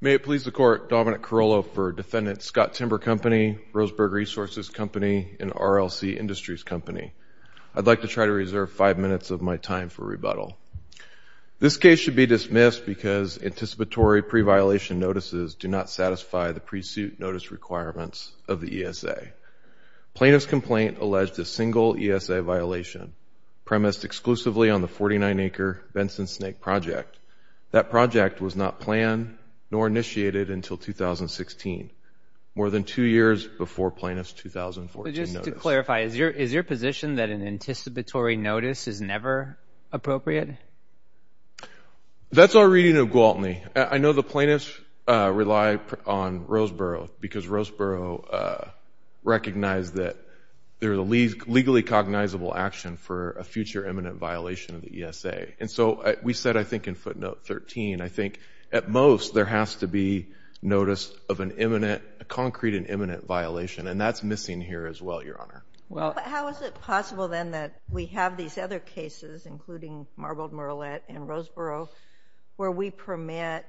May it please the Court, Dominic Carollo for Defendant Scott Timber Company, Roseburg Resources Company, and RLC Industries Company. I'd like to try to reserve five minutes of my time for rebuttal. This case should be dismissed because anticipatory pre-violation notices do not satisfy the pre-suit notice requirements of the ESA. Plaintiff's complaint alleged a single ESA violation premised exclusively on the 49-acre Benson Snake Project. That project was not planned nor initiated until 2016, more than two years before Plaintiff's 2014 notice. But just to clarify, is your position that an anticipatory notice is never appropriate? That's our reading of Gwaltney. I know the plaintiffs rely on Roseboro because Roseboro recognized that there was a legally cognizable action for a future imminent violation of the ESA. And so we said, I think, in footnote 13, I think, at most, there has to be notice of an imminent, a concrete and imminent violation, and that's missing here as well, Your Honor. Well, but how is it possible then that we have these other cases, including Marbled, Marlette, and Roseboro, where we permit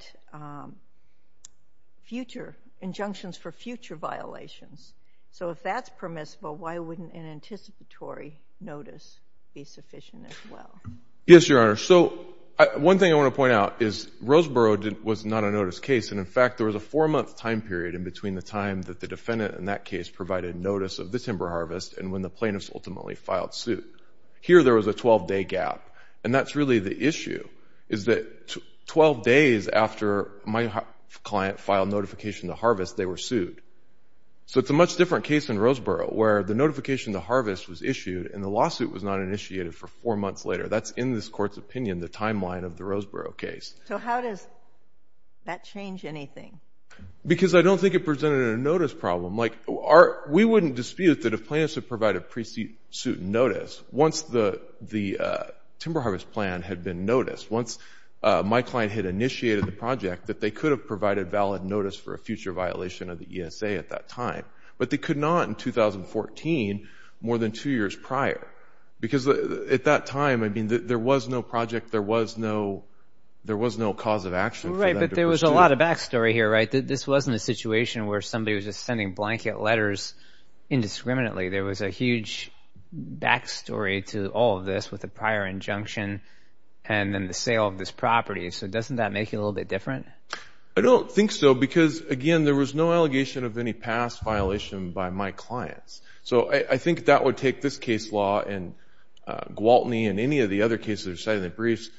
future injunctions for future violations? So if that's permissible, why wouldn't an anticipatory notice be sufficient as well? Yes, Your Honor. So one thing I want to point out is Roseboro was not a notice case, and, in fact, there was a four-month time period in between the time that the defendant in that case provided notice of the timber harvest and when the plaintiff ultimately filed suit. Here there was a 12-day gap, and that's really the issue, is that 12 days after my client filed notification to harvest, they were sued. So it's a much different case than Roseboro, where the notification to harvest was issued and the lawsuit was not initiated for four months later. That's, in this Court's opinion, the timeline of the Roseboro case. So how does that change anything? Because I don't think it presented a notice problem. Like, we wouldn't dispute that if plaintiffs had provided pre-suit notice, once the timber harvest plan had been noticed, once my client had initiated the project, that they could have provided valid notice for a future violation of the ESA at that time. But they could not in 2014, more than two years prior. Because at that time, I mean, there was no project, there was no cause of action for them to pursue. Right, but there was a lot of backstory here, right? This wasn't a situation where somebody was just sending blanket letters indiscriminately. There was a huge backstory to all of this with the prior injunction and then the sale of this property. So doesn't that make it a little bit different? I don't think so because, again, there was no allegation of any past violation by my clients. So I think that would take this case law and Gwaltney and any of the other cases that are cited in the briefs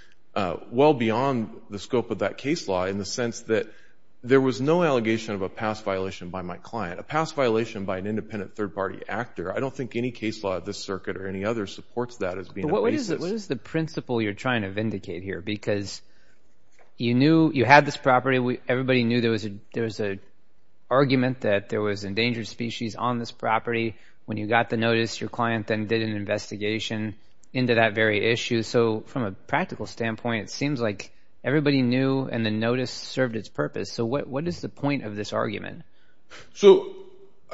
well beyond the scope of that case law in the sense that there was no allegation of a past violation by my client, a past violation by an independent third-party actor. I don't think any case law at this circuit or any other supports that as being a basis. But what is the principle you're trying to vindicate here? Because you knew you had this property. Everybody knew there was an argument that there was endangered species on this property. When you got the notice, your client then did an investigation into that very issue. So from a practical standpoint, it seems like everybody knew and the notice served its purpose. So what is the point of this argument?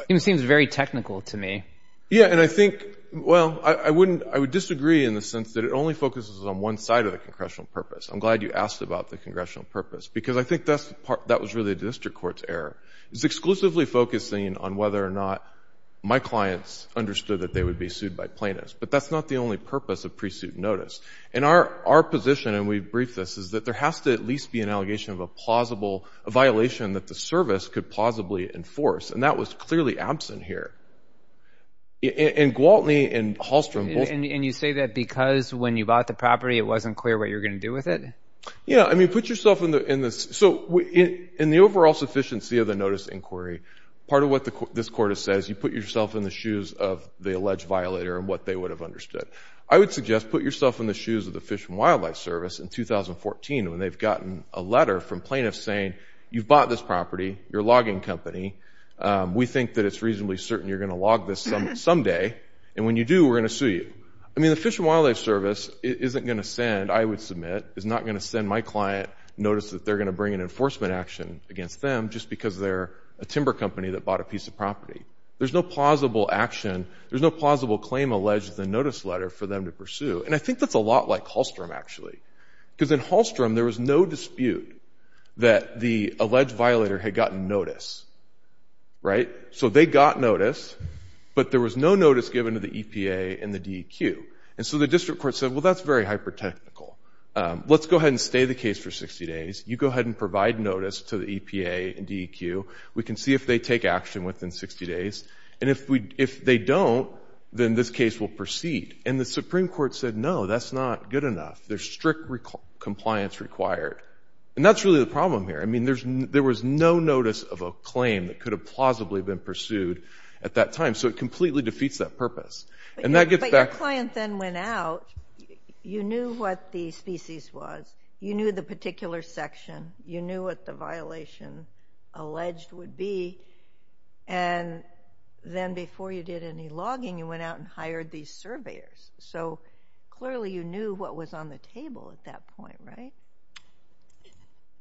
It seems very technical to me. Yeah, and I think, well, I would disagree in the sense that it only focuses on one side of the congressional purpose. I'm glad you asked about the congressional purpose because I think that was really the district court's error. It's exclusively focusing on whether or not my clients understood that they would be sued by plaintiffs. But that's not the only purpose of pre-suit notice. And our position, and we briefed this, is that there has to at least be an allegation of a plausible violation that the service could plausibly enforce, and that was clearly absent here. And Gwaltney and Hallstrom both— Yeah, I mean, put yourself in the— So in the overall sufficiency of the notice inquiry, part of what this court has said is you put yourself in the shoes of the alleged violator and what they would have understood. I would suggest put yourself in the shoes of the Fish and Wildlife Service in 2014 when they've gotten a letter from plaintiffs saying, you've bought this property, you're a logging company, we think that it's reasonably certain you're going to log this someday, and when you do, we're going to sue you. I mean, the Fish and Wildlife Service isn't going to send, I would submit, is not going to send my client notice that they're going to bring an enforcement action against them just because they're a timber company that bought a piece of property. There's no plausible action, there's no plausible claim alleged in the notice letter for them to pursue. And I think that's a lot like Hallstrom, actually. Because in Hallstrom, there was no dispute that the alleged violator had gotten notice, right? So they got notice, but there was no notice given to the EPA and the DEQ. And so the district court said, well, that's very hyper-technical. Let's go ahead and stay the case for 60 days. You go ahead and provide notice to the EPA and DEQ. We can see if they take action within 60 days. And if they don't, then this case will proceed. And the Supreme Court said, no, that's not good enough. There's strict compliance required. And that's really the problem here. I mean, there was no notice of a claim that could have plausibly been pursued at that time. So it completely defeats that purpose. But your client then went out. You knew what the species was. You knew the particular section. You knew what the violation alleged would be. And then before you did any logging, you went out and hired these surveyors. So clearly you knew what was on the table at that point, right?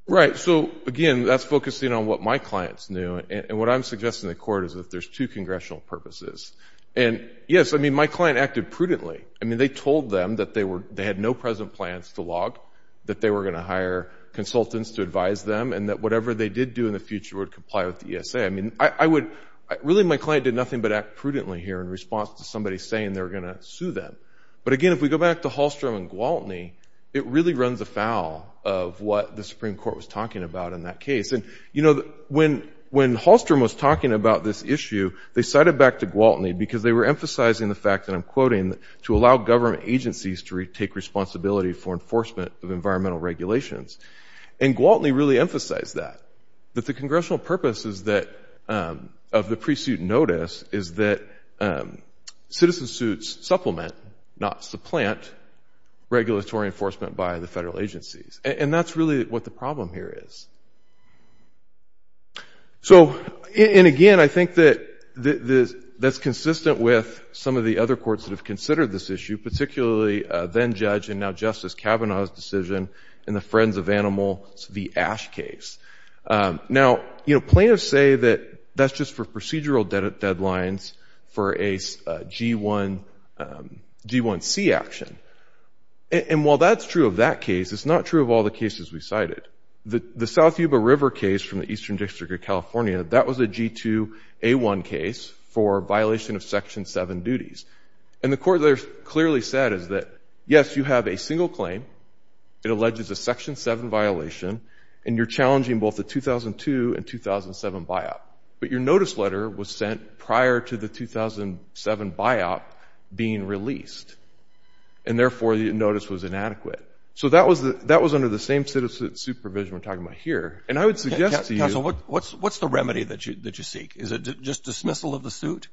Right. So, again, that's focusing on what my clients knew. And what I'm suggesting to the court is that there's two congressional purposes. And, yes, I mean, my client acted prudently. I mean, they told them that they had no present plans to log, that they were going to hire consultants to advise them, and that whatever they did do in the future would comply with the ESA. I mean, really my client did nothing but act prudently here in response to somebody saying they were going to sue them. But, again, if we go back to Hallstrom and Gwaltney, it really runs afoul of what the Supreme Court was talking about in that case. And, you know, when Hallstrom was talking about this issue, they cited back to Gwaltney because they were emphasizing the fact that, I'm quoting, to allow government agencies to take responsibility for enforcement of environmental regulations. And Gwaltney really emphasized that, that the congressional purpose of the pre-suit notice is that citizen suits supplement, not supplant, regulatory enforcement by the federal agencies. And that's really what the problem here is. So, and, again, I think that that's consistent with some of the other courts that have considered this issue, particularly then-judge and now-Justice Kavanaugh's decision in the Friends of Animals v. Ash case. Now, you know, plaintiffs say that that's just for procedural deadlines for a G1C action. And while that's true of that case, it's not true of all the cases we cited. The South Yuba River case from the Eastern District of California, that was a G2A1 case for violation of Section 7 duties. And the court there clearly said is that, yes, you have a single claim. It alleges a Section 7 violation, and you're challenging both the 2002 and 2007 BIOP. But your notice letter was sent prior to the 2007 BIOP being released. And, therefore, your notice was inadequate. So that was under the same citizen supervision we're talking about here. And I would suggest to you-Counsel, what's the remedy that you seek? Is it just dismissal of the suit?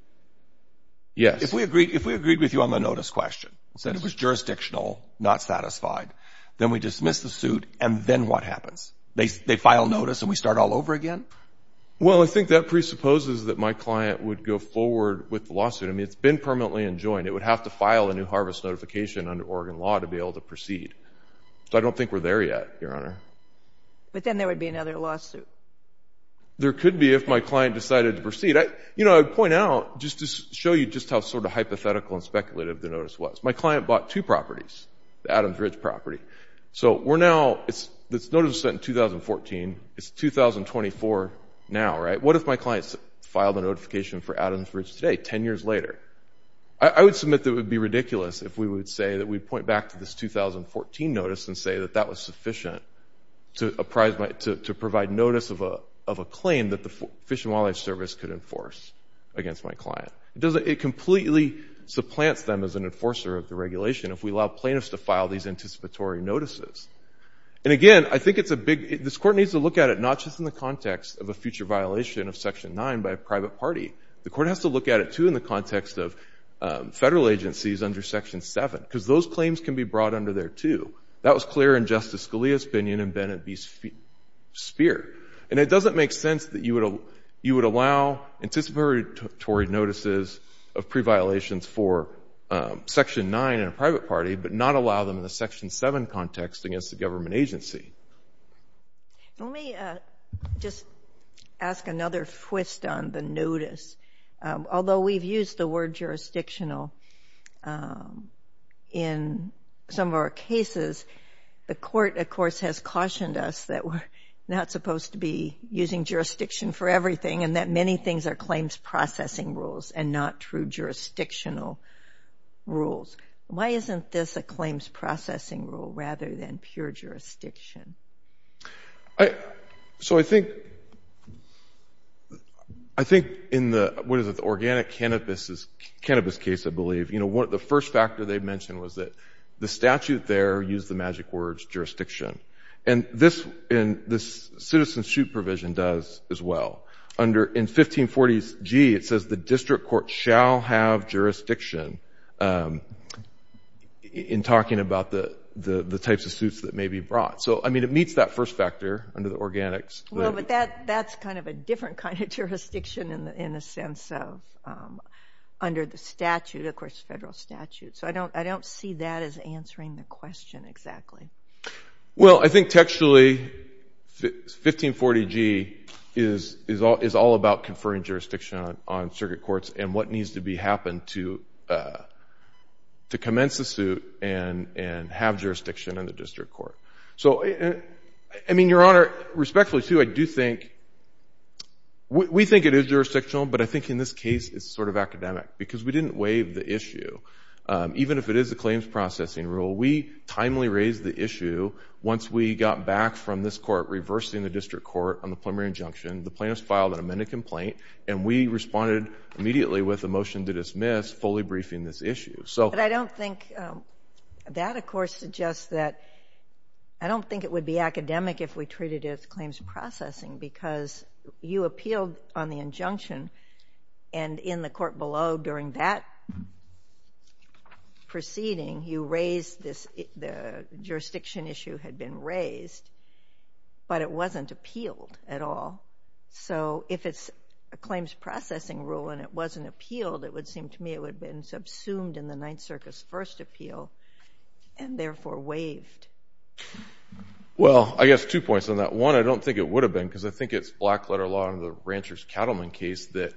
Yes. If we agreed with you on the notice question, said it was jurisdictional, not satisfied, then we dismiss the suit, and then what happens? They file notice, and we start all over again? Well, I think that presupposes that my client would go forward with the lawsuit. I mean, it's been permanently enjoined. It would have to file a new harvest notification under Oregon law to be able to proceed. So I don't think we're there yet, Your Honor. There could be if my client decided to proceed. You know, I'd point out just to show you just how sort of hypothetical and speculative the notice was. My client bought two properties, the Adams Ridge property. So we're now-this notice was sent in 2014. It's 2024 now, right? What if my client filed a notification for Adams Ridge today, 10 years later? I would submit that it would be ridiculous if we would say that we'd point back to this 2014 notice and say that that was sufficient to provide notice of a claim that the Fish and Wildlife Service could enforce against my client. It completely supplants them as an enforcer of the regulation if we allow plaintiffs to file these anticipatory notices. And again, I think it's a big-this Court needs to look at it not just in the context of a future violation of Section 9 by a private party. The Court has to look at it, too, in the context of federal agencies under Section 7, because those claims can be brought under there, too. That was clear in Justice Scalia's opinion and Bennett v. Speer. And it doesn't make sense that you would allow anticipatory notices of pre-violations for Section 9 in a private party, but not allow them in a Section 7 context against a government agency. Let me just ask another twist on the notice. Although we've used the word jurisdictional in some of our cases, the Court, of course, has cautioned us that we're not supposed to be using jurisdiction for everything and that many things are claims processing rules and not true jurisdictional rules. Why isn't this a claims processing rule rather than pure jurisdiction? I think in the organic cannabis case, I believe, the first factor they mentioned was that the statute there used the magic words jurisdiction. And this citizen suit provision does as well. In 1540 G, it says the district court shall have jurisdiction in talking about the types of suits that may be brought. So, I mean, it meets that first factor under the organics. Well, but that's kind of a different kind of jurisdiction in the sense of under the statute, of course, federal statute. So I don't see that as answering the question exactly. Well, I think textually 1540 G is all about conferring jurisdiction on circuit courts and what needs to be happened to commence the suit and have jurisdiction in the district court. So, I mean, Your Honor, respectfully, too, I do think we think it is jurisdictional, but I think in this case it's sort of academic because we didn't waive the issue. Even if it is a claims processing rule, we timely raised the issue once we got back from this court reversing the district court on the preliminary injunction. The plaintiffs filed an amended complaint, and we responded immediately with a motion to dismiss, fully briefing this issue. But I don't think that, of course, suggests that – I don't think it would be academic if we treated it as claims processing because you appealed on the injunction, and in the court below during that proceeding, you raised this – so if it's a claims processing rule and it wasn't appealed, it would seem to me it would have been subsumed in the Ninth Circuit's first appeal and therefore waived. Well, I guess two points on that. One, I don't think it would have been because I think it's black-letter law under the Rancher's-Cattleman case that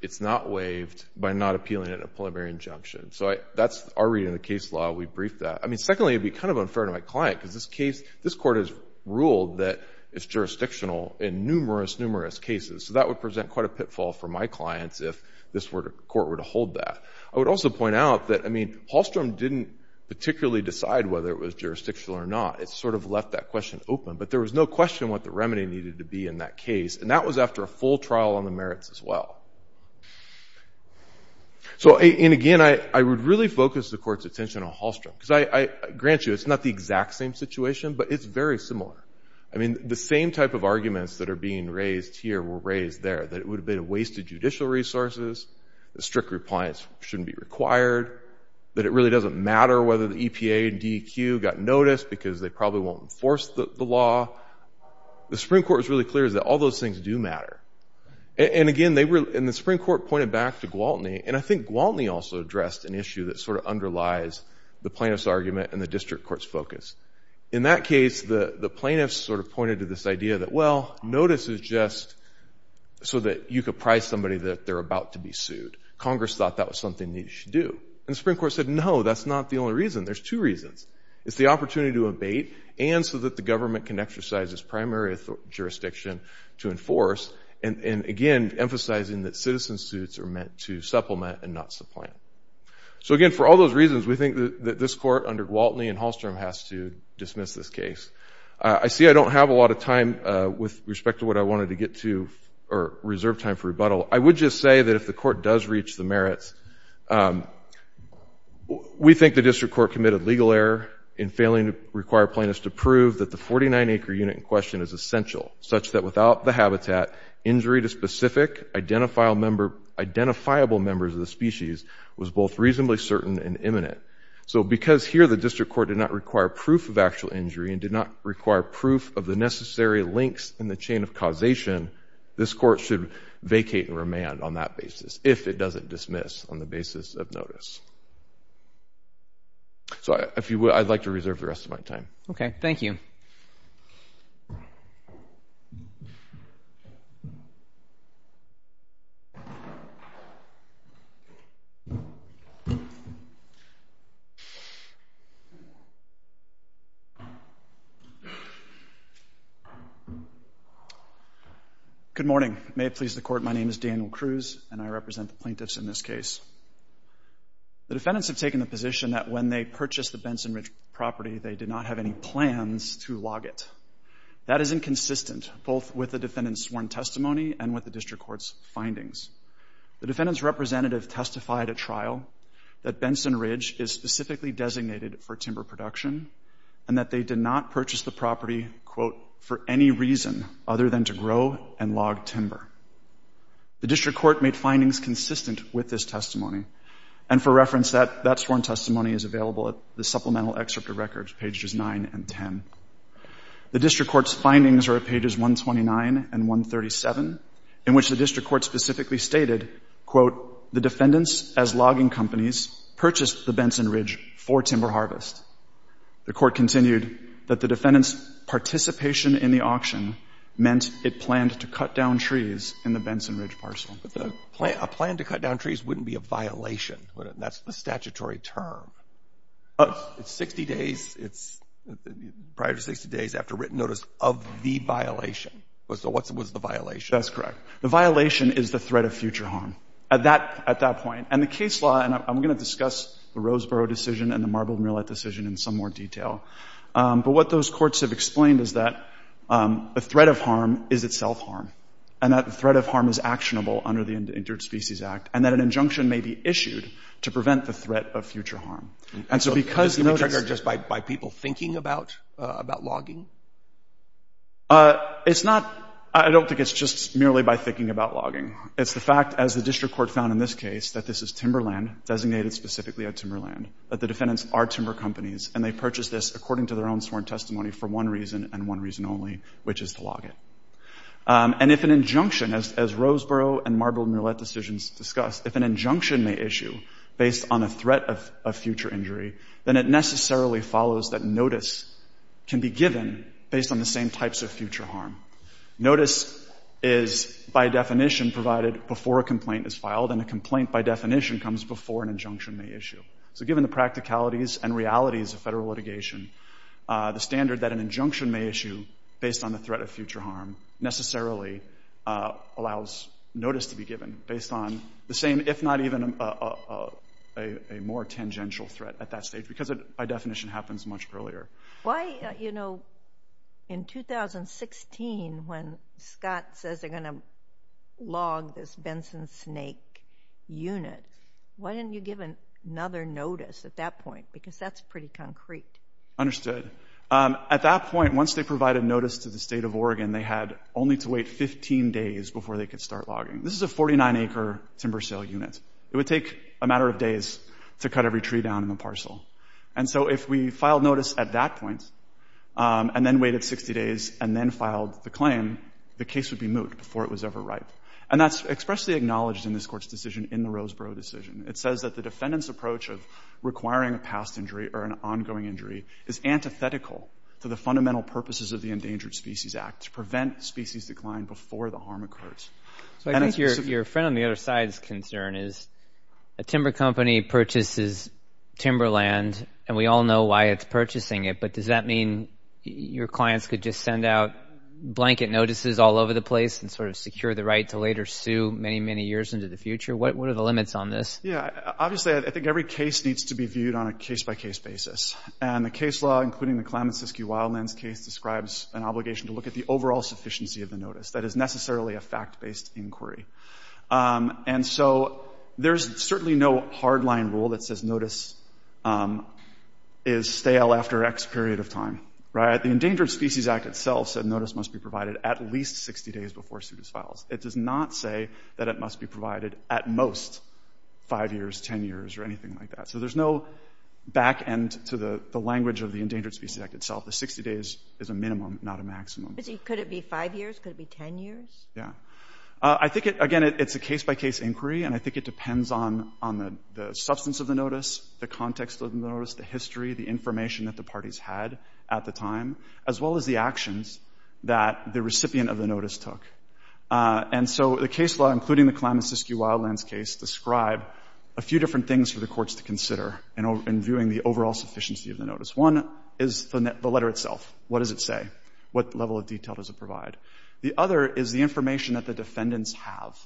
it's not waived by not appealing at a preliminary injunction. So that's our reading of the case law. We briefed that. I mean, secondly, it would be kind of unfair to my client because this case – that it's jurisdictional in numerous, numerous cases. So that would present quite a pitfall for my clients if this court were to hold that. I would also point out that, I mean, Hallstrom didn't particularly decide whether it was jurisdictional or not. It sort of left that question open. But there was no question what the remedy needed to be in that case, and that was after a full trial on the merits as well. So – and again, I would really focus the court's attention on Hallstrom because I grant you it's not the exact same situation, but it's very similar. I mean, the same type of arguments that are being raised here were raised there, that it would have been a waste of judicial resources, that strict compliance shouldn't be required, that it really doesn't matter whether the EPA and DEQ got notice because they probably won't enforce the law. The Supreme Court was really clear that all those things do matter. And again, they were – and the Supreme Court pointed back to Gwaltney, and I think Gwaltney also addressed an issue that sort of underlies the plaintiff's argument and the district court's focus. In that case, the plaintiffs sort of pointed to this idea that, well, notice is just so that you could prize somebody that they're about to be sued. Congress thought that was something they should do. And the Supreme Court said, no, that's not the only reason. There's two reasons. It's the opportunity to abate and so that the government can exercise its primary jurisdiction to enforce, and again, emphasizing that citizen suits are meant to supplement and not supplant. So again, for all those reasons, we think that this court under Gwaltney and Hallstrom has to dismiss this case. I see I don't have a lot of time with respect to what I wanted to get to or reserve time for rebuttal. I would just say that if the court does reach the merits, we think the district court committed legal error in failing to require plaintiffs to prove that the 49-acre unit in question is essential, such that without the habitat, injury to specific identifiable members of the species was both reasonably certain and imminent. So because here the district court did not require proof of actual injury and did not require proof of the necessary links in the chain of causation, this court should vacate and remand on that basis, if it doesn't dismiss on the basis of notice. So if you would, I'd like to reserve the rest of my time. Okay, thank you. Good morning. May it please the Court, my name is Daniel Cruz, and I represent the plaintiffs in this case. The defendants have taken the position that when they purchased the Benson Ridge property, they did not have any plans to log it. That is inconsistent both with the defendant's sworn testimony and with the district court's findings. The defendant's representative testified at trial that Benson Ridge is specifically designated for timber production and that they did not purchase the property, quote, for any reason other than to grow and log timber. The district court made findings consistent with this testimony, and for reference, that sworn testimony is available at the supplemental excerpt of records, pages 9 and 10. The district court's findings are at pages 129 and 137, in which the district court specifically stated, quote, the defendants, as logging companies, purchased the Benson Ridge for timber harvest. The court continued that the defendant's participation in the auction meant it planned to cut down trees in the Benson Ridge parcel. But a plan to cut down trees wouldn't be a violation. That's the statutory term. It's 60 days. It's prior to 60 days after written notice of the violation. So what's the violation? That's correct. The violation is the threat of future harm at that point. And the case law, and I'm going to discuss the Roseboro decision and the Marble and Murelet decision in some more detail, but what those courts have explained is that the threat of harm is itself harm and that the threat of harm is actionable under the Endangered Species Act and that an injunction may be issued to prevent the threat of future harm. And so because the notice — Could this be triggered just by people thinking about logging? It's not — I don't think it's just merely by thinking about logging. It's the fact, as the district court found in this case, that this is timberland designated specifically at Timberland, that the defendants are timber companies, and they purchased this according to their own sworn testimony for one reason and one reason only, which is to log it. And if an injunction, as Roseboro and Marble and Murelet decisions discuss, if an injunction may issue based on a threat of future injury, then it necessarily follows that notice can be given based on the same types of future harm. Notice is, by definition, provided before a complaint is filed, and a complaint, by definition, comes before an injunction may issue. So given the practicalities and realities of federal litigation, the standard that an injunction may issue based on the threat of future harm necessarily allows notice to be given based on the same, if not even a more tangential threat at that stage, because it, by definition, happens much earlier. Why, you know, in 2016, when Scott says they're going to log this Benson Snake unit, why didn't you give another notice at that point? Because that's pretty concrete. Understood. At that point, once they provided notice to the State of Oregon, they had only to wait 15 days before they could start logging. This is a 49-acre timber sale unit. It would take a matter of days to cut every tree down in the parcel. And so if we filed notice at that point and then waited 60 days and then filed the claim, the case would be moot before it was ever right. And that's expressly acknowledged in this Court's decision in the Roseboro decision. It says that the defendant's approach of requiring a past injury or an ongoing injury is antithetical to the fundamental purposes of the Endangered Species Act, to prevent species decline before the harm occurs. So I think your friend on the other side's concern is a timber company purchases timber land, and we all know why it's purchasing it, but does that mean your clients could just send out blanket notices all over the place and sort of secure the right to later sue many, many years into the future? What are the limits on this? Obviously, I think every case needs to be viewed on a case-by-case basis. And the case law, including the Kalamazoo Ski Wildlands case, describes an obligation to look at the overall sufficiency of the notice. That is necessarily a fact-based inquiry. And so there's certainly no hard-line rule that says notice is stale after X period of time. The Endangered Species Act itself said notice must be provided at least 60 days before suit is filed. It does not say that it must be provided at most 5 years, 10 years, or anything like that. So there's no back end to the language of the Endangered Species Act itself. The 60 days is a minimum, not a maximum. Could it be 5 years? Could it be 10 years? I think, again, it's a case-by-case inquiry, and I think it depends on the substance of the notice, the context of the notice, the history, the information that the parties had at the time, as well as the actions that the recipient of the notice took. And so the case law, including the Kalamazoo Ski Wildlands case, describe a few different things for the courts to consider in viewing the overall sufficiency of the notice. One is the letter itself. What does it say? What level of detail does it provide? The other is the information that the defendants have.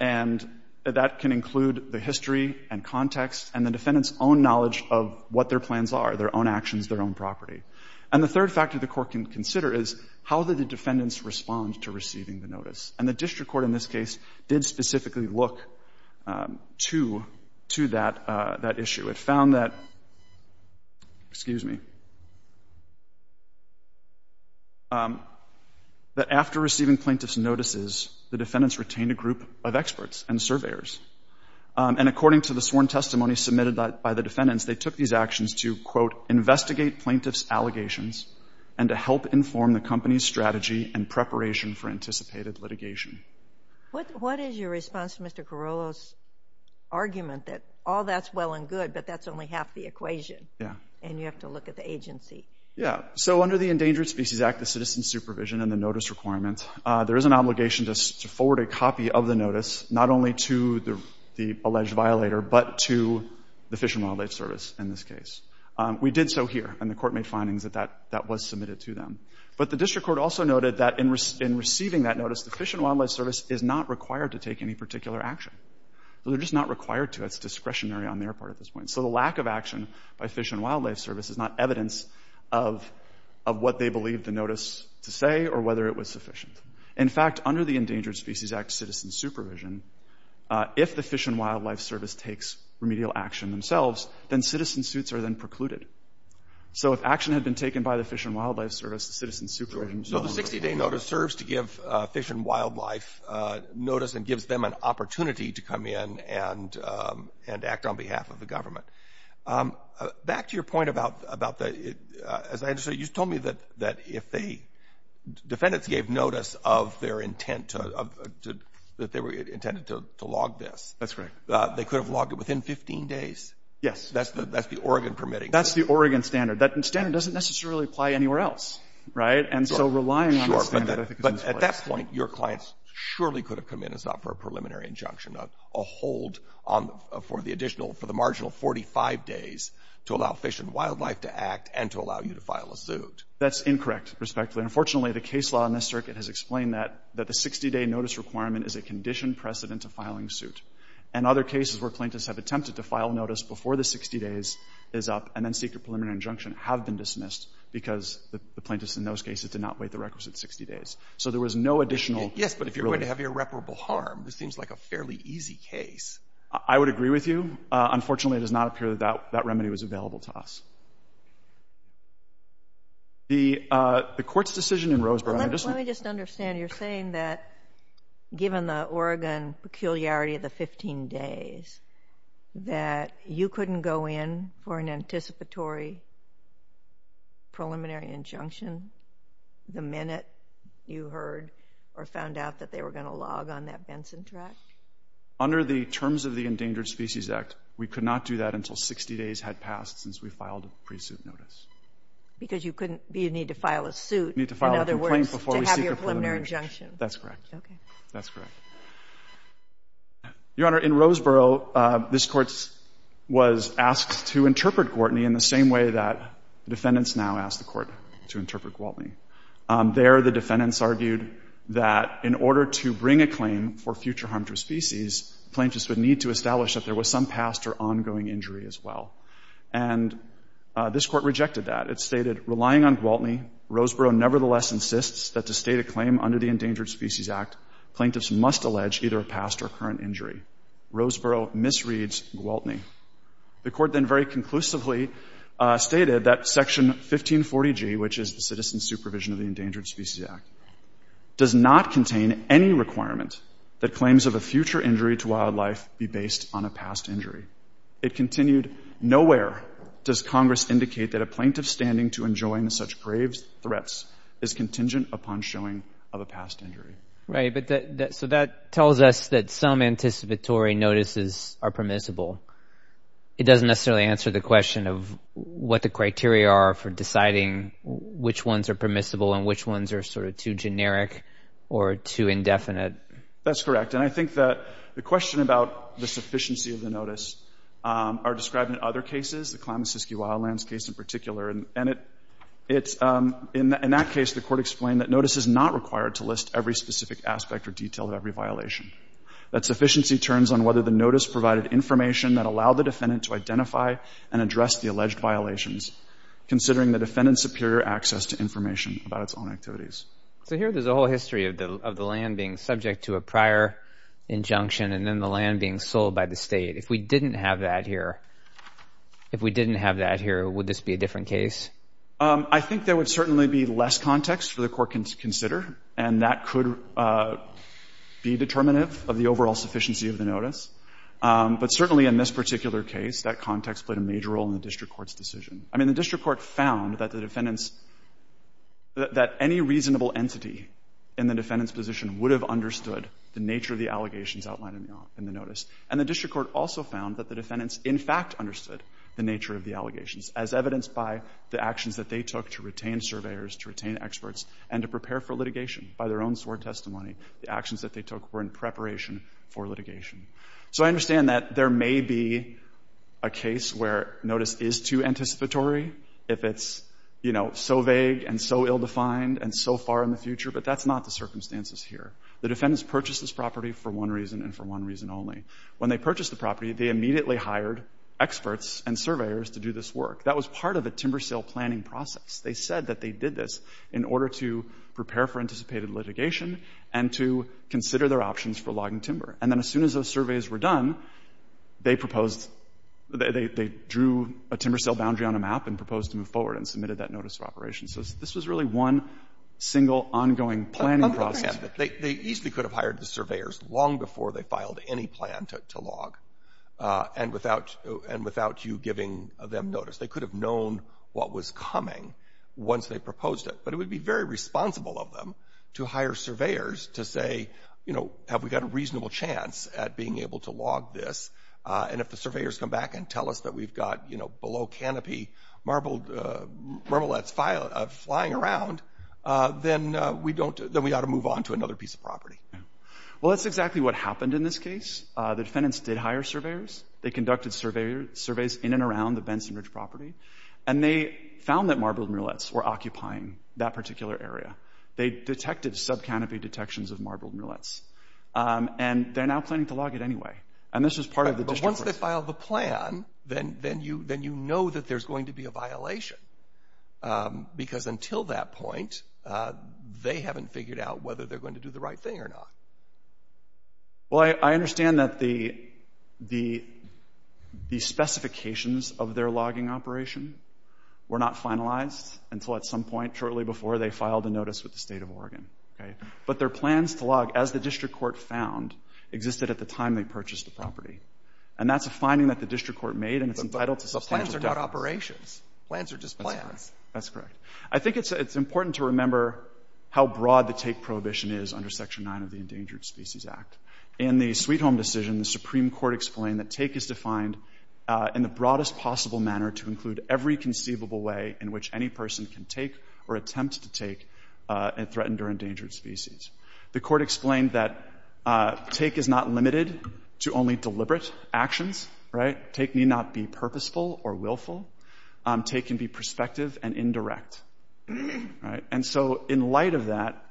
And that can include the history and context and the defendants' own knowledge of what their plans are, their own actions, their own property. And the third factor the court can consider is how did the defendants respond to receiving the notice? And the district court in this case did specifically look to that issue. It found that... Excuse me. ...that after receiving plaintiffs' notices, the defendants retained a group of experts and surveyors. And according to the sworn testimony submitted by the defendants, they took these actions to, quote, investigate plaintiffs' allegations and to help inform the company's strategy and preparation for anticipated litigation. What is your response to Mr. Carollo's argument that all that's well and good, but that's only half the equation? Yeah. And you have to look at the agency. Yeah. So under the Endangered Species Act, the citizen supervision and the notice requirements, there is an obligation to forward a copy of the notice not only to the alleged violator, but to the Fish and Wildlife Service in this case. We did so here, and the court made findings that that was submitted to them. But the district court also noted that in receiving that notice, the Fish and Wildlife Service is not required to take any particular action. They're just not required to. That's discretionary on their part at this point. So the lack of action by Fish and Wildlife Service is not evidence of what they believe the notice to say or whether it was sufficient. In fact, under the Endangered Species Act citizen supervision, if the Fish and Wildlife Service takes remedial action themselves, then citizen suits are then precluded. So if action had been taken by the Fish and Wildlife Service, the citizen supervision would be removed. So the 60-day notice serves to give Fish and Wildlife notice and gives them an opportunity to come in and act on behalf of the government. Back to your point about the – as I understand, you told me that if they – defendants gave notice of their intent to – that they were intended to log this. That's correct. They could have logged it within 15 days. Yes. That's the Oregon permitting. That's the Oregon standard. That standard doesn't necessarily apply anywhere else, right? And so relying on the standard, I think, is misplaced. At that point, your clients surely could have come in and sought for a preliminary injunction, a hold on – for the additional – for the marginal 45 days to allow Fish and Wildlife to act and to allow you to file a suit. That's incorrect, respectfully. Unfortunately, the case law in this circuit has explained that the 60-day notice requirement is a conditioned precedent to filing suit. And other cases where plaintiffs have attempted to file notice before the 60 days is up and then seek a preliminary injunction have been dismissed because the plaintiffs in those cases did not wait the requisite 60 days. So there was no additional – Yes, but if you're going to have irreparable harm, this seems like a fairly easy case. I would agree with you. Unfortunately, it does not appear that that remedy was available to us. The court's decision in Roseboro – Let me just understand. You're saying that given the Oregon peculiarity of the 15 days that you couldn't go in for an anticipatory preliminary injunction the minute you heard or found out that they were going to log on that Benson tract? Under the terms of the Endangered Species Act, we could not do that until 60 days had passed since we filed a pre-suit notice. Because you couldn't – you'd need to file a suit, in other words, to have your preliminary injunction. That's correct. Okay. That's correct. Your Honor, in Roseboro, this Court was asked to interpret Gortney in the same way that defendants now ask the Court to interpret Gortney. There, the defendants argued that in order to bring a claim for future harm to a species, plaintiffs would need to establish that there was some past or ongoing injury as well. And this Court rejected that. It stated, Relying on Gortney, Roseboro nevertheless insists that to state a claim under the Endangered Species Act, plaintiffs must allege either a past or current injury. Roseboro misreads Gortney. The Court then very conclusively stated that Section 1540G, which is the Citizen Supervision of the Endangered Species Act, does not contain any requirement that claims of a future injury to wildlife be based on a past injury. It continued, Nowhere does Congress indicate that a plaintiff standing to enjoin such grave threats is contingent upon showing of a past injury. Right. Okay. So that tells us that some anticipatory notices are permissible. It doesn't necessarily answer the question of what the criteria are for deciding which ones are permissible and which ones are sort of too generic or too indefinite. That's correct. And I think that the question about the sufficiency of the notice are described in other cases, the Klamansky Wildlands case in particular. And in that case, the Court explained that notice is not required to list every specific aspect or detail of every violation. That sufficiency turns on whether the notice provided information that allowed the defendant to identify and address the alleged violations, considering the defendant's superior access to information about its own activities. So here there's a whole history of the land being subject to a prior injunction and then the land being sold by the State. If we didn't have that here, if we didn't have that here, would this be a different case? I think there would certainly be less context for the Court to consider, and that could be determinative of the overall sufficiency of the notice. But certainly in this particular case, that context played a major role in the district court's decision. I mean, the district court found that the defendants – that any reasonable entity in the defendant's position would have understood the nature of the allegations outlined in the notice. And the district court also found that the defendants in fact understood the nature of the allegations as evidenced by the actions that they took to retain surveyors, to retain experts, and to prepare for litigation. By their own sworn testimony, the actions that they took were in preparation for litigation. So I understand that there may be a case where notice is too anticipatory if it's, you know, so vague and so ill-defined and so far in the future, but that's not the circumstances here. The defendants purchased this property for one reason and for one reason only. When they purchased the property, they immediately hired experts and surveyors to do this work. That was part of a timber sale planning process. They said that they did this in order to prepare for anticipated litigation and to consider their options for logging timber. And then as soon as those surveys were done, they proposed – they drew a timber sale boundary on a map and proposed to move forward and submitted that notice of operation. So this was really one single ongoing planning process. I understand that they easily could have hired the surveyors long before they filed any plan to log and without you giving them notice. They could have known what was coming once they proposed it, but it would be very responsible of them to hire surveyors to say, you know, have we got a reasonable chance at being able to log this? And if the surveyors come back and tell us that we've got, you know, Well, that's exactly what happened in this case. The defendants did hire surveyors. They conducted surveys in and around the Benson Ridge property, and they found that marbled mulelets were occupying that particular area. They detected sub-canopy detections of marbled mulelets, and they're now planning to log it anyway. And this was part of the district process. But once they filed the plan, then you know that there's going to be a violation because until that point, they haven't figured out whether they're going to do the right thing or not. Well, I understand that the specifications of their logging operation were not finalized until at some point shortly before they filed a notice with the state of Oregon. But their plans to log, as the district court found, existed at the time they purchased the property. And that's a finding that the district court made, and it's entitled to substantial tax. Plans are not operations. Plans are just plans. That's correct. I think it's important to remember how broad the take prohibition is under Section 9 of the Endangered Species Act. In the Sweet Home decision, the Supreme Court explained that take is defined in the broadest possible manner to include every conceivable way in which any person can take or attempt to take a threatened or endangered species. The court explained that take is not limited to only deliberate actions. Take need not be purposeful or willful. Take can be prospective and indirect. And so in light of that,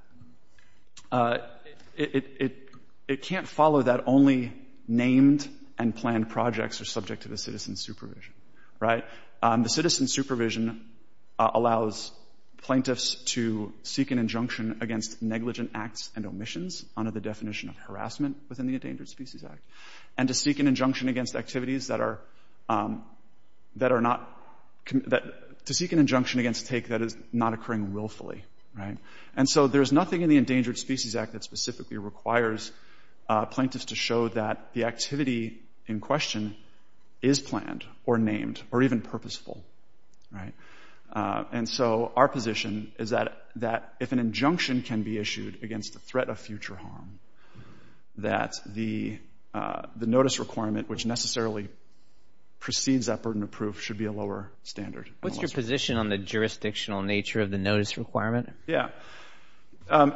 it can't follow that only named and planned projects are subject to the citizen supervision. The citizen supervision allows plaintiffs to seek an injunction against negligent acts and omissions under the definition of harassment within the Endangered Species Act and to seek an injunction against activities that are not, to seek an injunction against take that is not occurring willfully. And so there's nothing in the Endangered Species Act that specifically requires plaintiffs to show that the activity in question is planned or named or even purposeful. And so our position is that if an injunction can be issued against the threat of future harm, that the notice requirement, which necessarily precedes that burden of proof, should be a lower standard. What's your position on the jurisdictional nature of the notice requirement? Yeah.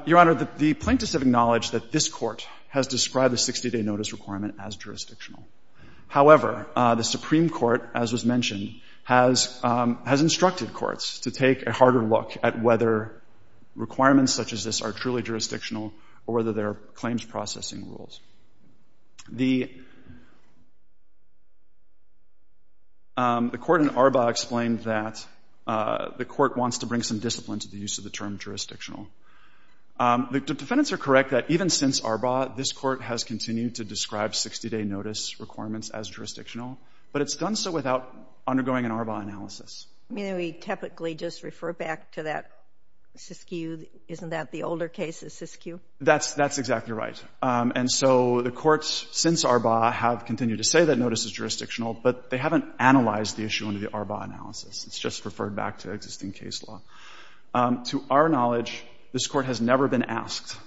Your Honor, the plaintiffs have acknowledged that this court has described the 60-day notice requirement as jurisdictional. However, the Supreme Court, as was mentioned, has instructed courts to take a harder look at whether requirements such as this are truly jurisdictional or whether there are claims processing rules. The court in Arbaugh explained that the court wants to bring some discipline to the use of the term jurisdictional. The defendants are correct that even since Arbaugh, this court has continued to describe 60-day notice requirements as jurisdictional, but it's done so without undergoing an Arbaugh analysis. You mean we typically just refer back to that Siskiyou? Isn't that the older case of Siskiyou? That's exactly right. And so the courts since Arbaugh have continued to say that notice is jurisdictional, but they haven't analyzed the issue under the Arbaugh analysis. It's just referred back to existing case law. To our knowledge, this court has never been asked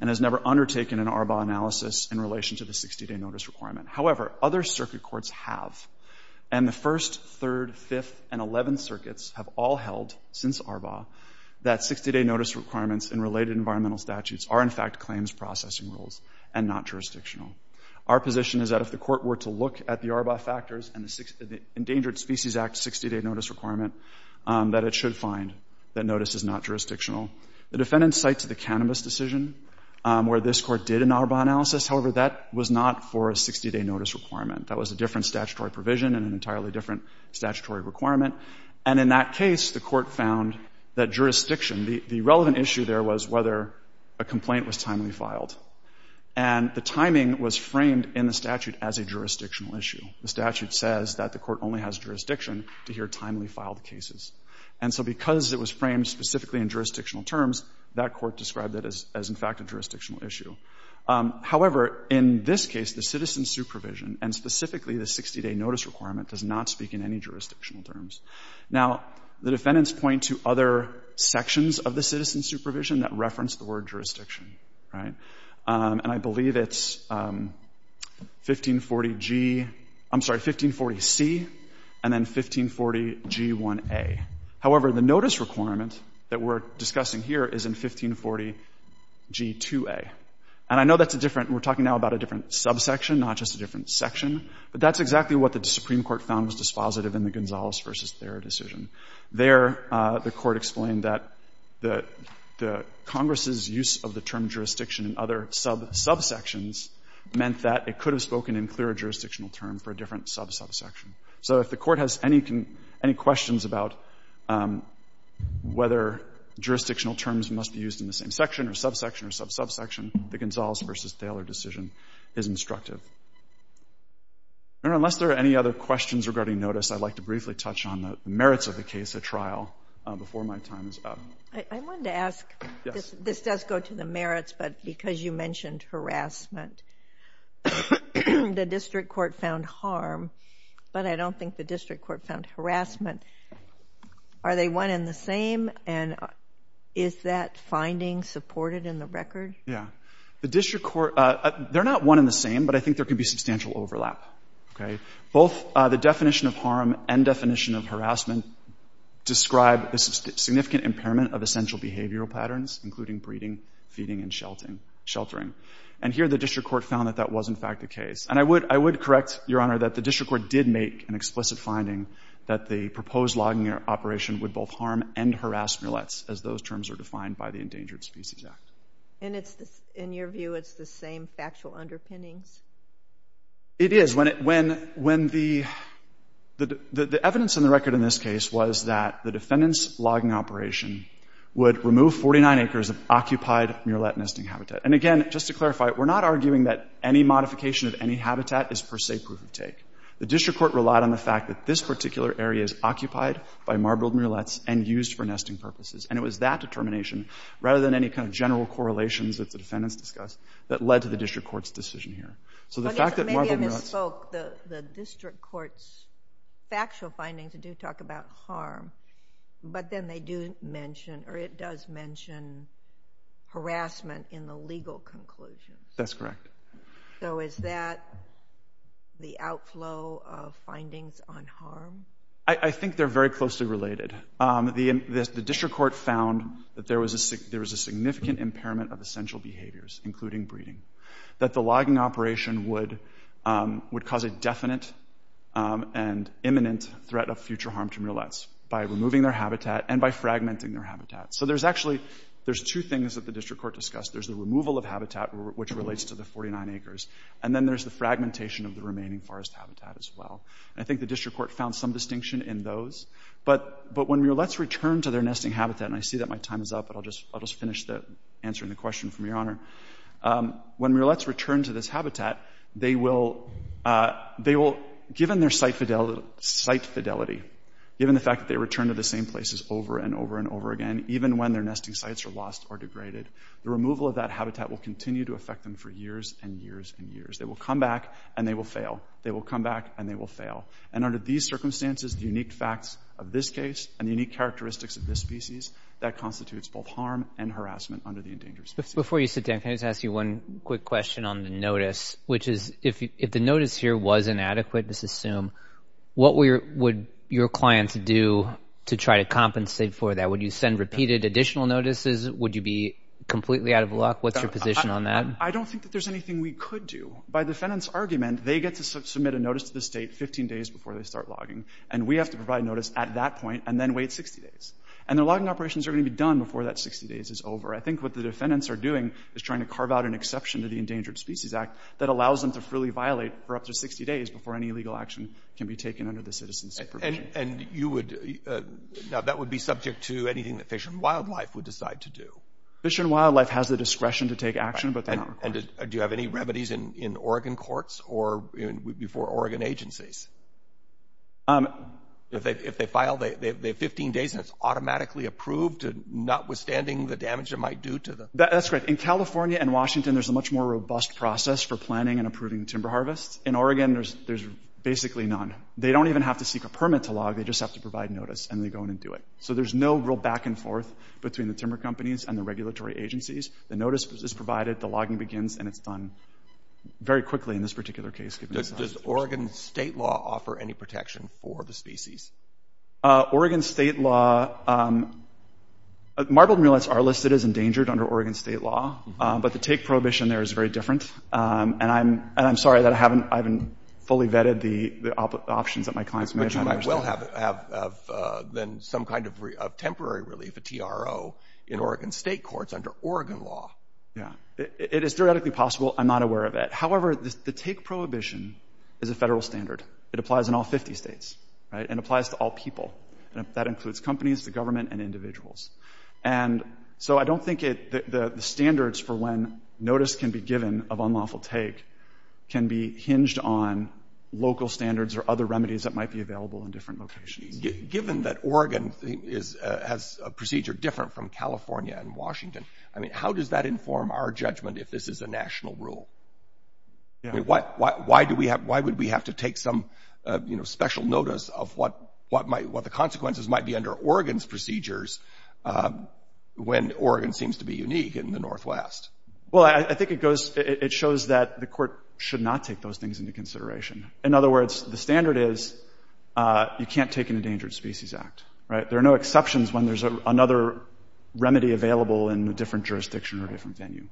and has never undertaken an Arbaugh analysis in relation to the 60-day notice requirement. However, other circuit courts have, and the 1st, 3rd, 5th, and 11th circuits have all held since Arbaugh that 60-day notice requirements in related environmental statutes are in fact claims processing rules and not jurisdictional. Our position is that if the court were to look at the Arbaugh factors and the Endangered Species Act 60-day notice requirement, that it should find that notice is not jurisdictional. The defendants cite to the cannabis decision where this court did an Arbaugh analysis. However, that was not for a 60-day notice requirement. That was a different statutory provision and an entirely different statutory requirement. And in that case, the court found that jurisdiction... The relevant issue there was whether a complaint was timely filed. And the timing was framed in the statute as a jurisdictional issue. The statute says that the court only has jurisdiction to hear timely filed cases. And so because it was framed specifically in jurisdictional terms, that court described it as in fact a jurisdictional issue. However, in this case, the citizen supervision and specifically the 60-day notice requirement does not speak in any jurisdictional terms. Now, the defendants point to other sections of the citizen supervision that reference the word jurisdiction, right? And I believe it's 1540G... I'm sorry, 1540C and then 1540G1A. However, the notice requirement that we're discussing here is in 1540G2A. And I know that's a different... We're talking now about a different subsection, not just a different section. But that's exactly what the Supreme Court found was dispositive in the Gonzalez v. Thera decision. There, the court explained that the Congress's use of the term jurisdiction in other subsections meant that it could have spoken in clearer jurisdictional terms for a different sub-subsection. So if the court has any questions about whether jurisdictional terms must be used in the same section or subsection or sub-subsection, the Gonzalez v. Thera decision is instructive. Unless there are any other questions regarding notice, I'd like to briefly touch on the merits of the case at trial before my time is up. I wanted to ask... Yes. This does go to the merits, but because you mentioned harassment, the district court found harm, but I don't think the district court found harassment. Are they one and the same, and is that finding supported in the record? Yeah. The district court... They're not one and the same, but I think there could be substantial overlap, okay? Both the definition of harm and definition of harassment describe a significant impairment of essential behavioral patterns, including breeding, feeding, and sheltering. And here the district court found that that was, in fact, the case. And I would correct, Your Honor, that the district court did make an explicit finding that the proposed logging operation would both harm and harass murrelets, as those terms are defined by the Endangered Species Act. And in your view, it's the same factual underpinnings? It is. When the... The evidence in the record in this case was that the defendant's logging operation would remove 49 acres of occupied murrelet nesting habitat. And again, just to clarify, we're not arguing that any modification of any habitat is per se proof of take. The district court relied on the fact that this particular area is occupied by marbled murrelets and used for nesting purposes. And it was that determination, rather than any kind of general correlations that the defendants discussed, that led to the district court's decision here. So the fact that marbled murrelets... Maybe I misspoke. The district court's factual findings do talk about harm, but then they do mention... Or it does mention harassment in the legal conclusion. That's correct. So is that the outflow of findings on harm? I think they're very closely related. The district court found that there was a significant impairment of essential behaviors, including breeding, that the logging operation would cause a definite and imminent threat of future harm to murrelets by removing their habitat and by fragmenting their habitat. So there's actually... There's two things that the district court discussed. There's the removal of habitat, which relates to the 49 acres, and then there's the fragmentation of the remaining forest habitat as well. And I think the district court found some distinction in those. But when murrelets return to their nesting habitat... And I see that my time is up, but I'll just finish answering the question from Your Honor. When murrelets return to this habitat, they will, given their site fidelity, given the fact that they return to the same places over and over and over again, even when their nesting sites are lost or degraded, the removal of that habitat will continue to affect them for years and years and years. They will come back, and they will fail. They will come back, and they will fail. And under these circumstances, the unique facts of this case and the unique characteristics of this species, that constitutes both harm and harassment under the endangered species. Before you sit down, can I just ask you one quick question on the notice, which is, if the notice here was inadequate, let's assume, what would your clients do to try to compensate for that? Would you send repeated additional notices? Would you be completely out of luck? What's your position on that? I don't think that there's anything we could do. By defendant's argument, they get to submit a notice to the state 15 days before they start logging, and we have to provide notice at that point and then wait 60 days. And the logging operations are going to be done before that 60 days is over. I think what the defendants are doing is trying to carve out an exception to the Endangered Species Act that allows them to freely violate for up to 60 days before any legal action can be taken under the citizen's supervision. And you would— Would they do anything that Fish and Wildlife would decide to do? Fish and Wildlife has the discretion to take action, but they're not required. And do you have any remedies in Oregon courts or before Oregon agencies? If they file, they have 15 days, and it's automatically approved, notwithstanding the damage it might do to them? That's correct. In California and Washington, there's a much more robust process for planning and approving timber harvests. In Oregon, there's basically none. They don't even have to seek a permit to log. They just have to provide notice, and they go in and do it. So there's no real back-and-forth between the timber companies and the regulatory agencies. The notice is provided, the logging begins, and it's done very quickly in this particular case. Does Oregon state law offer any protection for the species? Oregon state law— Marbled mulets are listed as endangered under Oregon state law, but the take prohibition there is very different. And I'm sorry that I haven't fully vetted the options that my clients may have. I will have, then, some kind of temporary relief, a TRO, in Oregon state courts under Oregon law. It is theoretically possible. I'm not aware of it. However, the take prohibition is a federal standard. It applies in all 50 states and applies to all people. That includes companies, the government, and individuals. So I don't think the standards for when notice can be given of unlawful take can be hinged on local standards or other remedies that might be available in different locations. Given that Oregon has a procedure different from California and Washington, I mean, how does that inform our judgment if this is a national rule? Why would we have to take some special notice of what the consequences might be under Oregon's procedures when Oregon seems to be unique in the Northwest? Well, I think it shows that the court should not take those things into consideration. In other words, the standard is you can't take an Endangered Species Act. There are no exceptions when there's another remedy available in a different jurisdiction or different venue.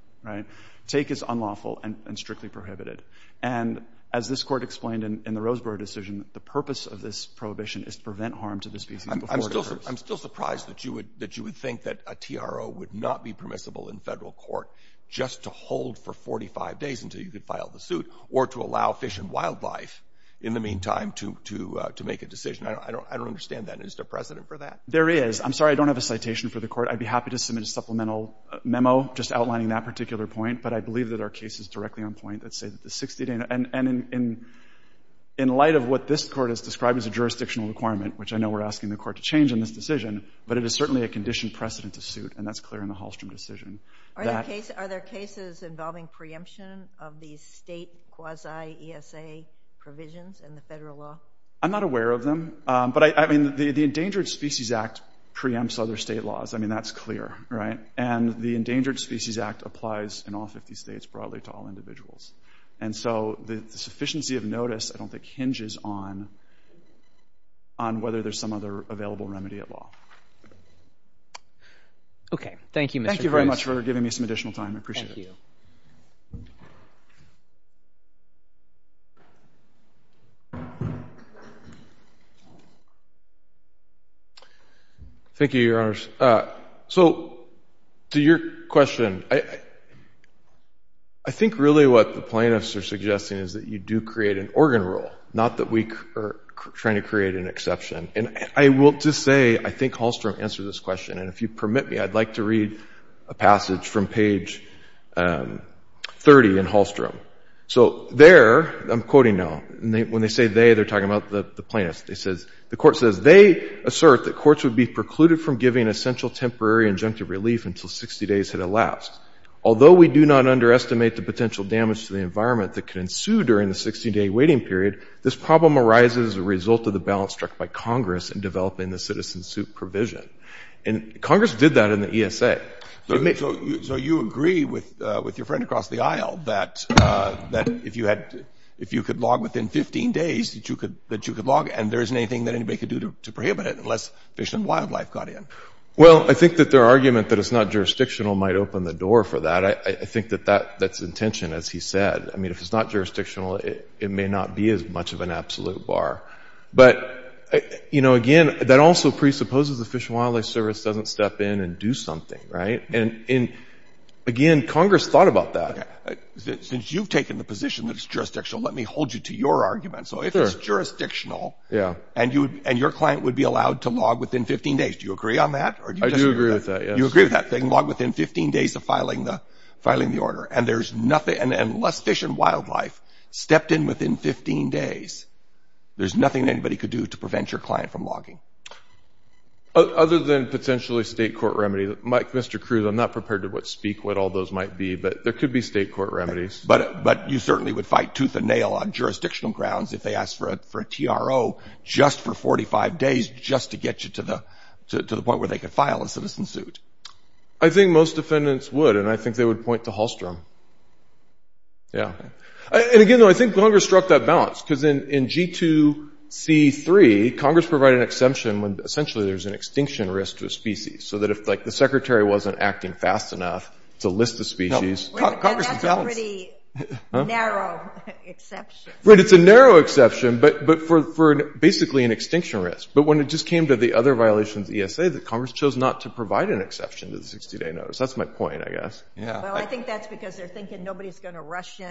Take is unlawful and strictly prohibited. And as this court explained in the Roseboro decision, the purpose of this prohibition is to prevent harm to the species before it occurs. I'm still surprised that you would think that a TRO would not be permissible in federal court just to hold for 45 days until you could file the suit or to allow fish and wildlife, in the meantime, to make a decision. I don't understand that. Is there precedent for that? There is. I'm sorry, I don't have a citation for the court. I'd be happy to submit a supplemental memo just outlining that particular point, but I believe that our case is directly on point. And in light of what this court has described as a jurisdictional requirement, which I know we're asking the court to change in this decision, but it is certainly a conditioned precedent to suit, and that's clear in the Hallstrom decision. Are there cases involving preemption of these state quasi-ESA provisions in the federal law? I'm not aware of them. But, I mean, the Endangered Species Act preempts other state laws. I mean, that's clear, right? And the Endangered Species Act applies in all 50 states broadly to all individuals. And so the sufficiency of notice, I don't think, hinges on whether there's some other available remedy at law. Okay. Thank you, Mr. Gray. Thank you very much for giving me some additional time. I appreciate it. Thank you. Thank you, Your Honors. So to your question, I think really what the plaintiffs are suggesting is that you do create an organ rule, not that we are trying to create an exception. And I will just say, I think Hallstrom answered this question. And if you permit me, I'd like to read a passage from page 30 in Hallstrom. So there, I'm quoting now, when they say they, they're talking about the plaintiffs. It says, the Court says, They assert that courts would be precluded from giving essential temporary injunctive relief until 60 days had elapsed. Although we do not underestimate the potential damage to the environment that could ensue during the 60-day waiting period, this problem arises as a result of the balance struck by Congress in developing the citizen suit provision. And Congress did that in the ESA. So you agree with your friend across the aisle that if you could log within 15 days that you could log and there isn't anything that anybody could do to prohibit it unless fish and wildlife got in. Well, I think that their argument that it's not jurisdictional might open the door for that. I think that that's the intention, as he said. I mean, if it's not jurisdictional, it may not be as much of an absolute bar. But, you know, again, that also presupposes the Fish and Wildlife Service doesn't step in and do something, right? And, again, Congress thought about that. Since you've taken the position that it's jurisdictional, let me hold you to your argument. So if it's jurisdictional, and your client would be allowed to log within 15 days, do you agree on that? I do agree with that, yes. You agree with that thing, log within 15 days of filing the order. And unless fish and wildlife stepped in within 15 days, there's nothing anybody could do to prevent your client from logging. Other than potentially state court remedies. Mike, Mr. Cruz, I'm not prepared to speak what all those might be, but there could be state court remedies. But you certainly would fight tooth and nail on jurisdictional grounds if they asked for a TRO just for 45 days just to get you to the point where they could file a citizen suit. I think most defendants would, and I think they would point to Hallstrom. Yeah. And, again, though, I think Congress struck that balance. Because in G2C3, Congress provided an exception when essentially there's an extinction risk to a species. So that if, like, the secretary wasn't acting fast enough to list the species, Congress would balance. And that's a pretty narrow exception. Right, it's a narrow exception, but for basically an extinction risk. But when it just came to the other violations ESA, Congress chose not to provide an exception to the 60-day notice. That's my point, I guess. Well, I think that's because they're thinking nobody's going to rush in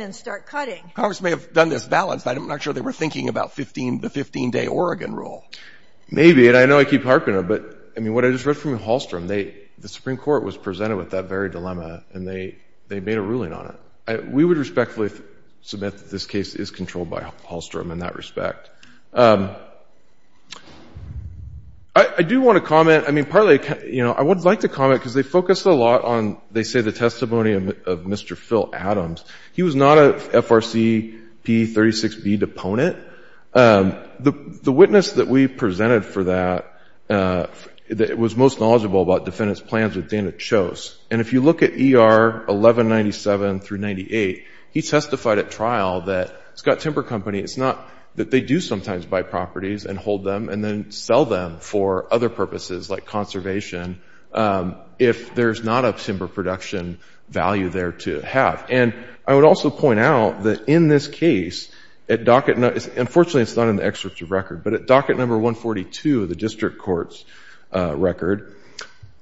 and start cutting. Congress may have done this balanced. I'm not sure they were thinking about the 15-day Oregon rule. Maybe. And I know I keep harping on it, but, I mean, what I just read from Hallstrom, the Supreme Court was presented with that very dilemma, and they made a ruling on it. We would respectfully submit that this case is controlled by Hallstrom in that respect. I do want to comment, I mean, partly, you know, I would like to comment, because they focused a lot on, they say, the testimony of Mr. Phil Adams. He was not an FRC P36B deponent. The witness that we presented for that was most knowledgeable about defendant's plans with Dana Chose. And if you look at ER 1197 through 98, he testified at trial that it's got timber company. It's not that they do sometimes buy properties and hold them and then sell them for other purposes, like conservation, if there's not a timber production value there to have. And I would also point out that in this case, at docket, unfortunately it's not in the excerpt of record, but at docket number 142 of the district court's record,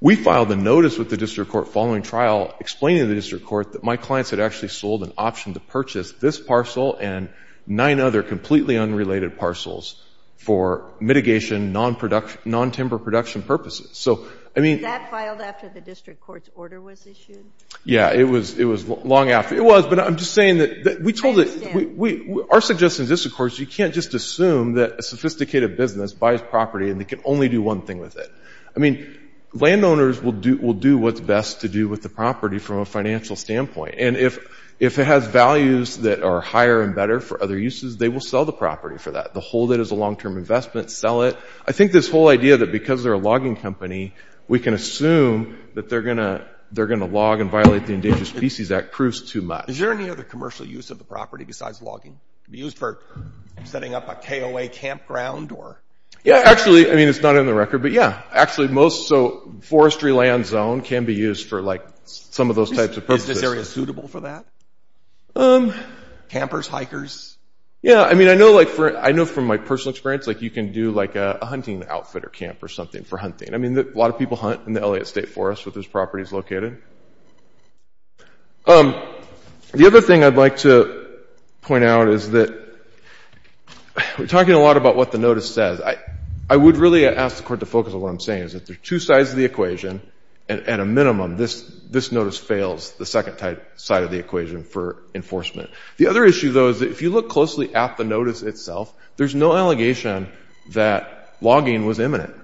we filed a notice with the district court following trial explaining to the district court that my clients had actually sold an option to purchase this parcel and nine other completely unrelated parcels for mitigation, non-production, non-timber production purposes. So, I mean — Was that filed after the district court's order was issued? Yeah. It was long after. It was, but I'm just saying that we told it — I understand. Our suggestion to the district court is you can't just assume that a sophisticated business buys property and they can only do one thing with it. I mean, landowners will do what's best to do with the property from a financial standpoint. And if it has values that are higher and better for other uses, they will sell the property for that, hold it as a long-term investment, sell it. I think this whole idea that because they're a logging company, we can assume that they're going to log and violate the Endangered Species Act proves too much. Is there any other commercial use of the property besides logging? Used for setting up a KOA campground or — Yeah, actually, I mean, it's not in the record, but yeah. Actually, most — so, forestry land zone can be used for, like, some of those types of purposes. Is this area suitable for that? Campers, hikers? Yeah, I mean, I know, like, from my personal experience, like, you can do, like, a hunting outfit or camp or something for hunting. I mean, a lot of people hunt in the Elliott State Forest where this property is located. The other thing I'd like to point out is that we're talking a lot about what the notice says. I would really ask the Court to focus on what I'm saying, is that there are two sides of the equation. At a minimum, this notice fails the second side of the equation for enforcement. The other issue, though, is that if you look closely at the notice itself, there's no allegation that logging was imminent.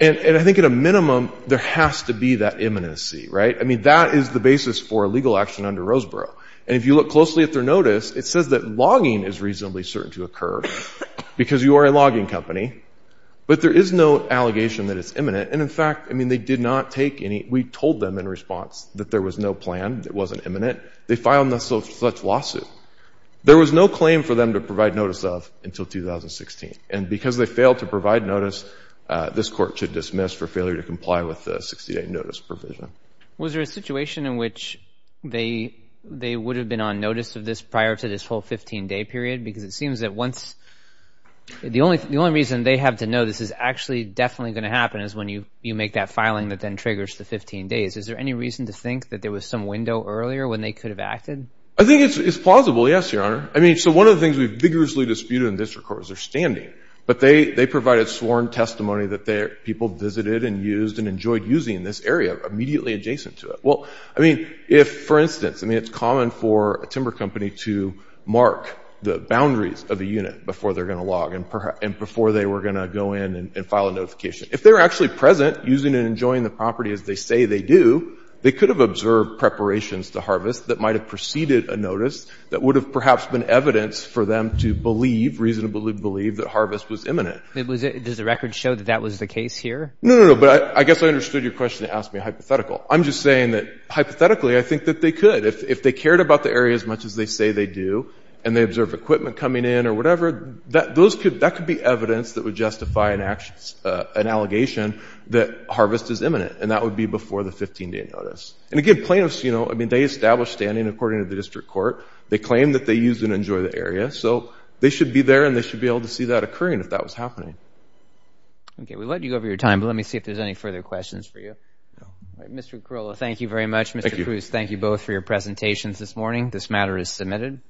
And I think at a minimum, there has to be that imminency, right? I mean, that is the basis for legal action under Roseboro. And if you look closely at their notice, it says that logging is reasonably certain to occur because you are a logging company. But there is no allegation that it's imminent. And, in fact, I mean, they did not take any – we told them in response that there was no plan. It wasn't imminent. They filed no such lawsuit. There was no claim for them to provide notice of until 2016. And because they failed to provide notice, this Court should dismiss for failure to comply with the 60-day notice provision. Was there a situation in which they would have been on notice of this prior to this whole 15-day period? Because it seems that once – the only reason they have to know this is actually definitely going to happen is when you make that filing that then triggers the 15 days. Is there any reason to think that there was some window earlier when they could have acted? I think it's plausible, yes, Your Honor. I mean, so one of the things we've vigorously disputed in district court is their standing. But they provided sworn testimony that people visited and used and enjoyed using in this area immediately adjacent to it. Well, I mean, if – for instance, I mean, it's common for a timber company to mark the boundaries of a unit before they're going to log and before they were going to go in and file a notification. If they were actually present using and enjoying the property as they say they do, they could have observed preparations to harvest that might have preceded a notice that would have perhaps been evidence for them to believe, reasonably believe, that harvest was imminent. Does the record show that that was the case here? No, no, no. But I guess I understood your question to ask me a hypothetical. I'm just saying that, hypothetically, I think that they could. If they cared about the area as much as they say they do and they observed equipment coming in or whatever, that could be evidence that would justify an allegation that harvest is imminent, and that would be before the 15-day notice. And again, plaintiffs, you know, I mean, they established standing according to the district court. They claim that they used and enjoyed the area. So they should be there and they should be able to see that occurring if that was happening. Okay. We let you go over your time, but let me see if there's any further questions for you. Mr. Carrillo, thank you very much. Mr. Cruz, thank you both for your presentations this morning. This matter is submitted.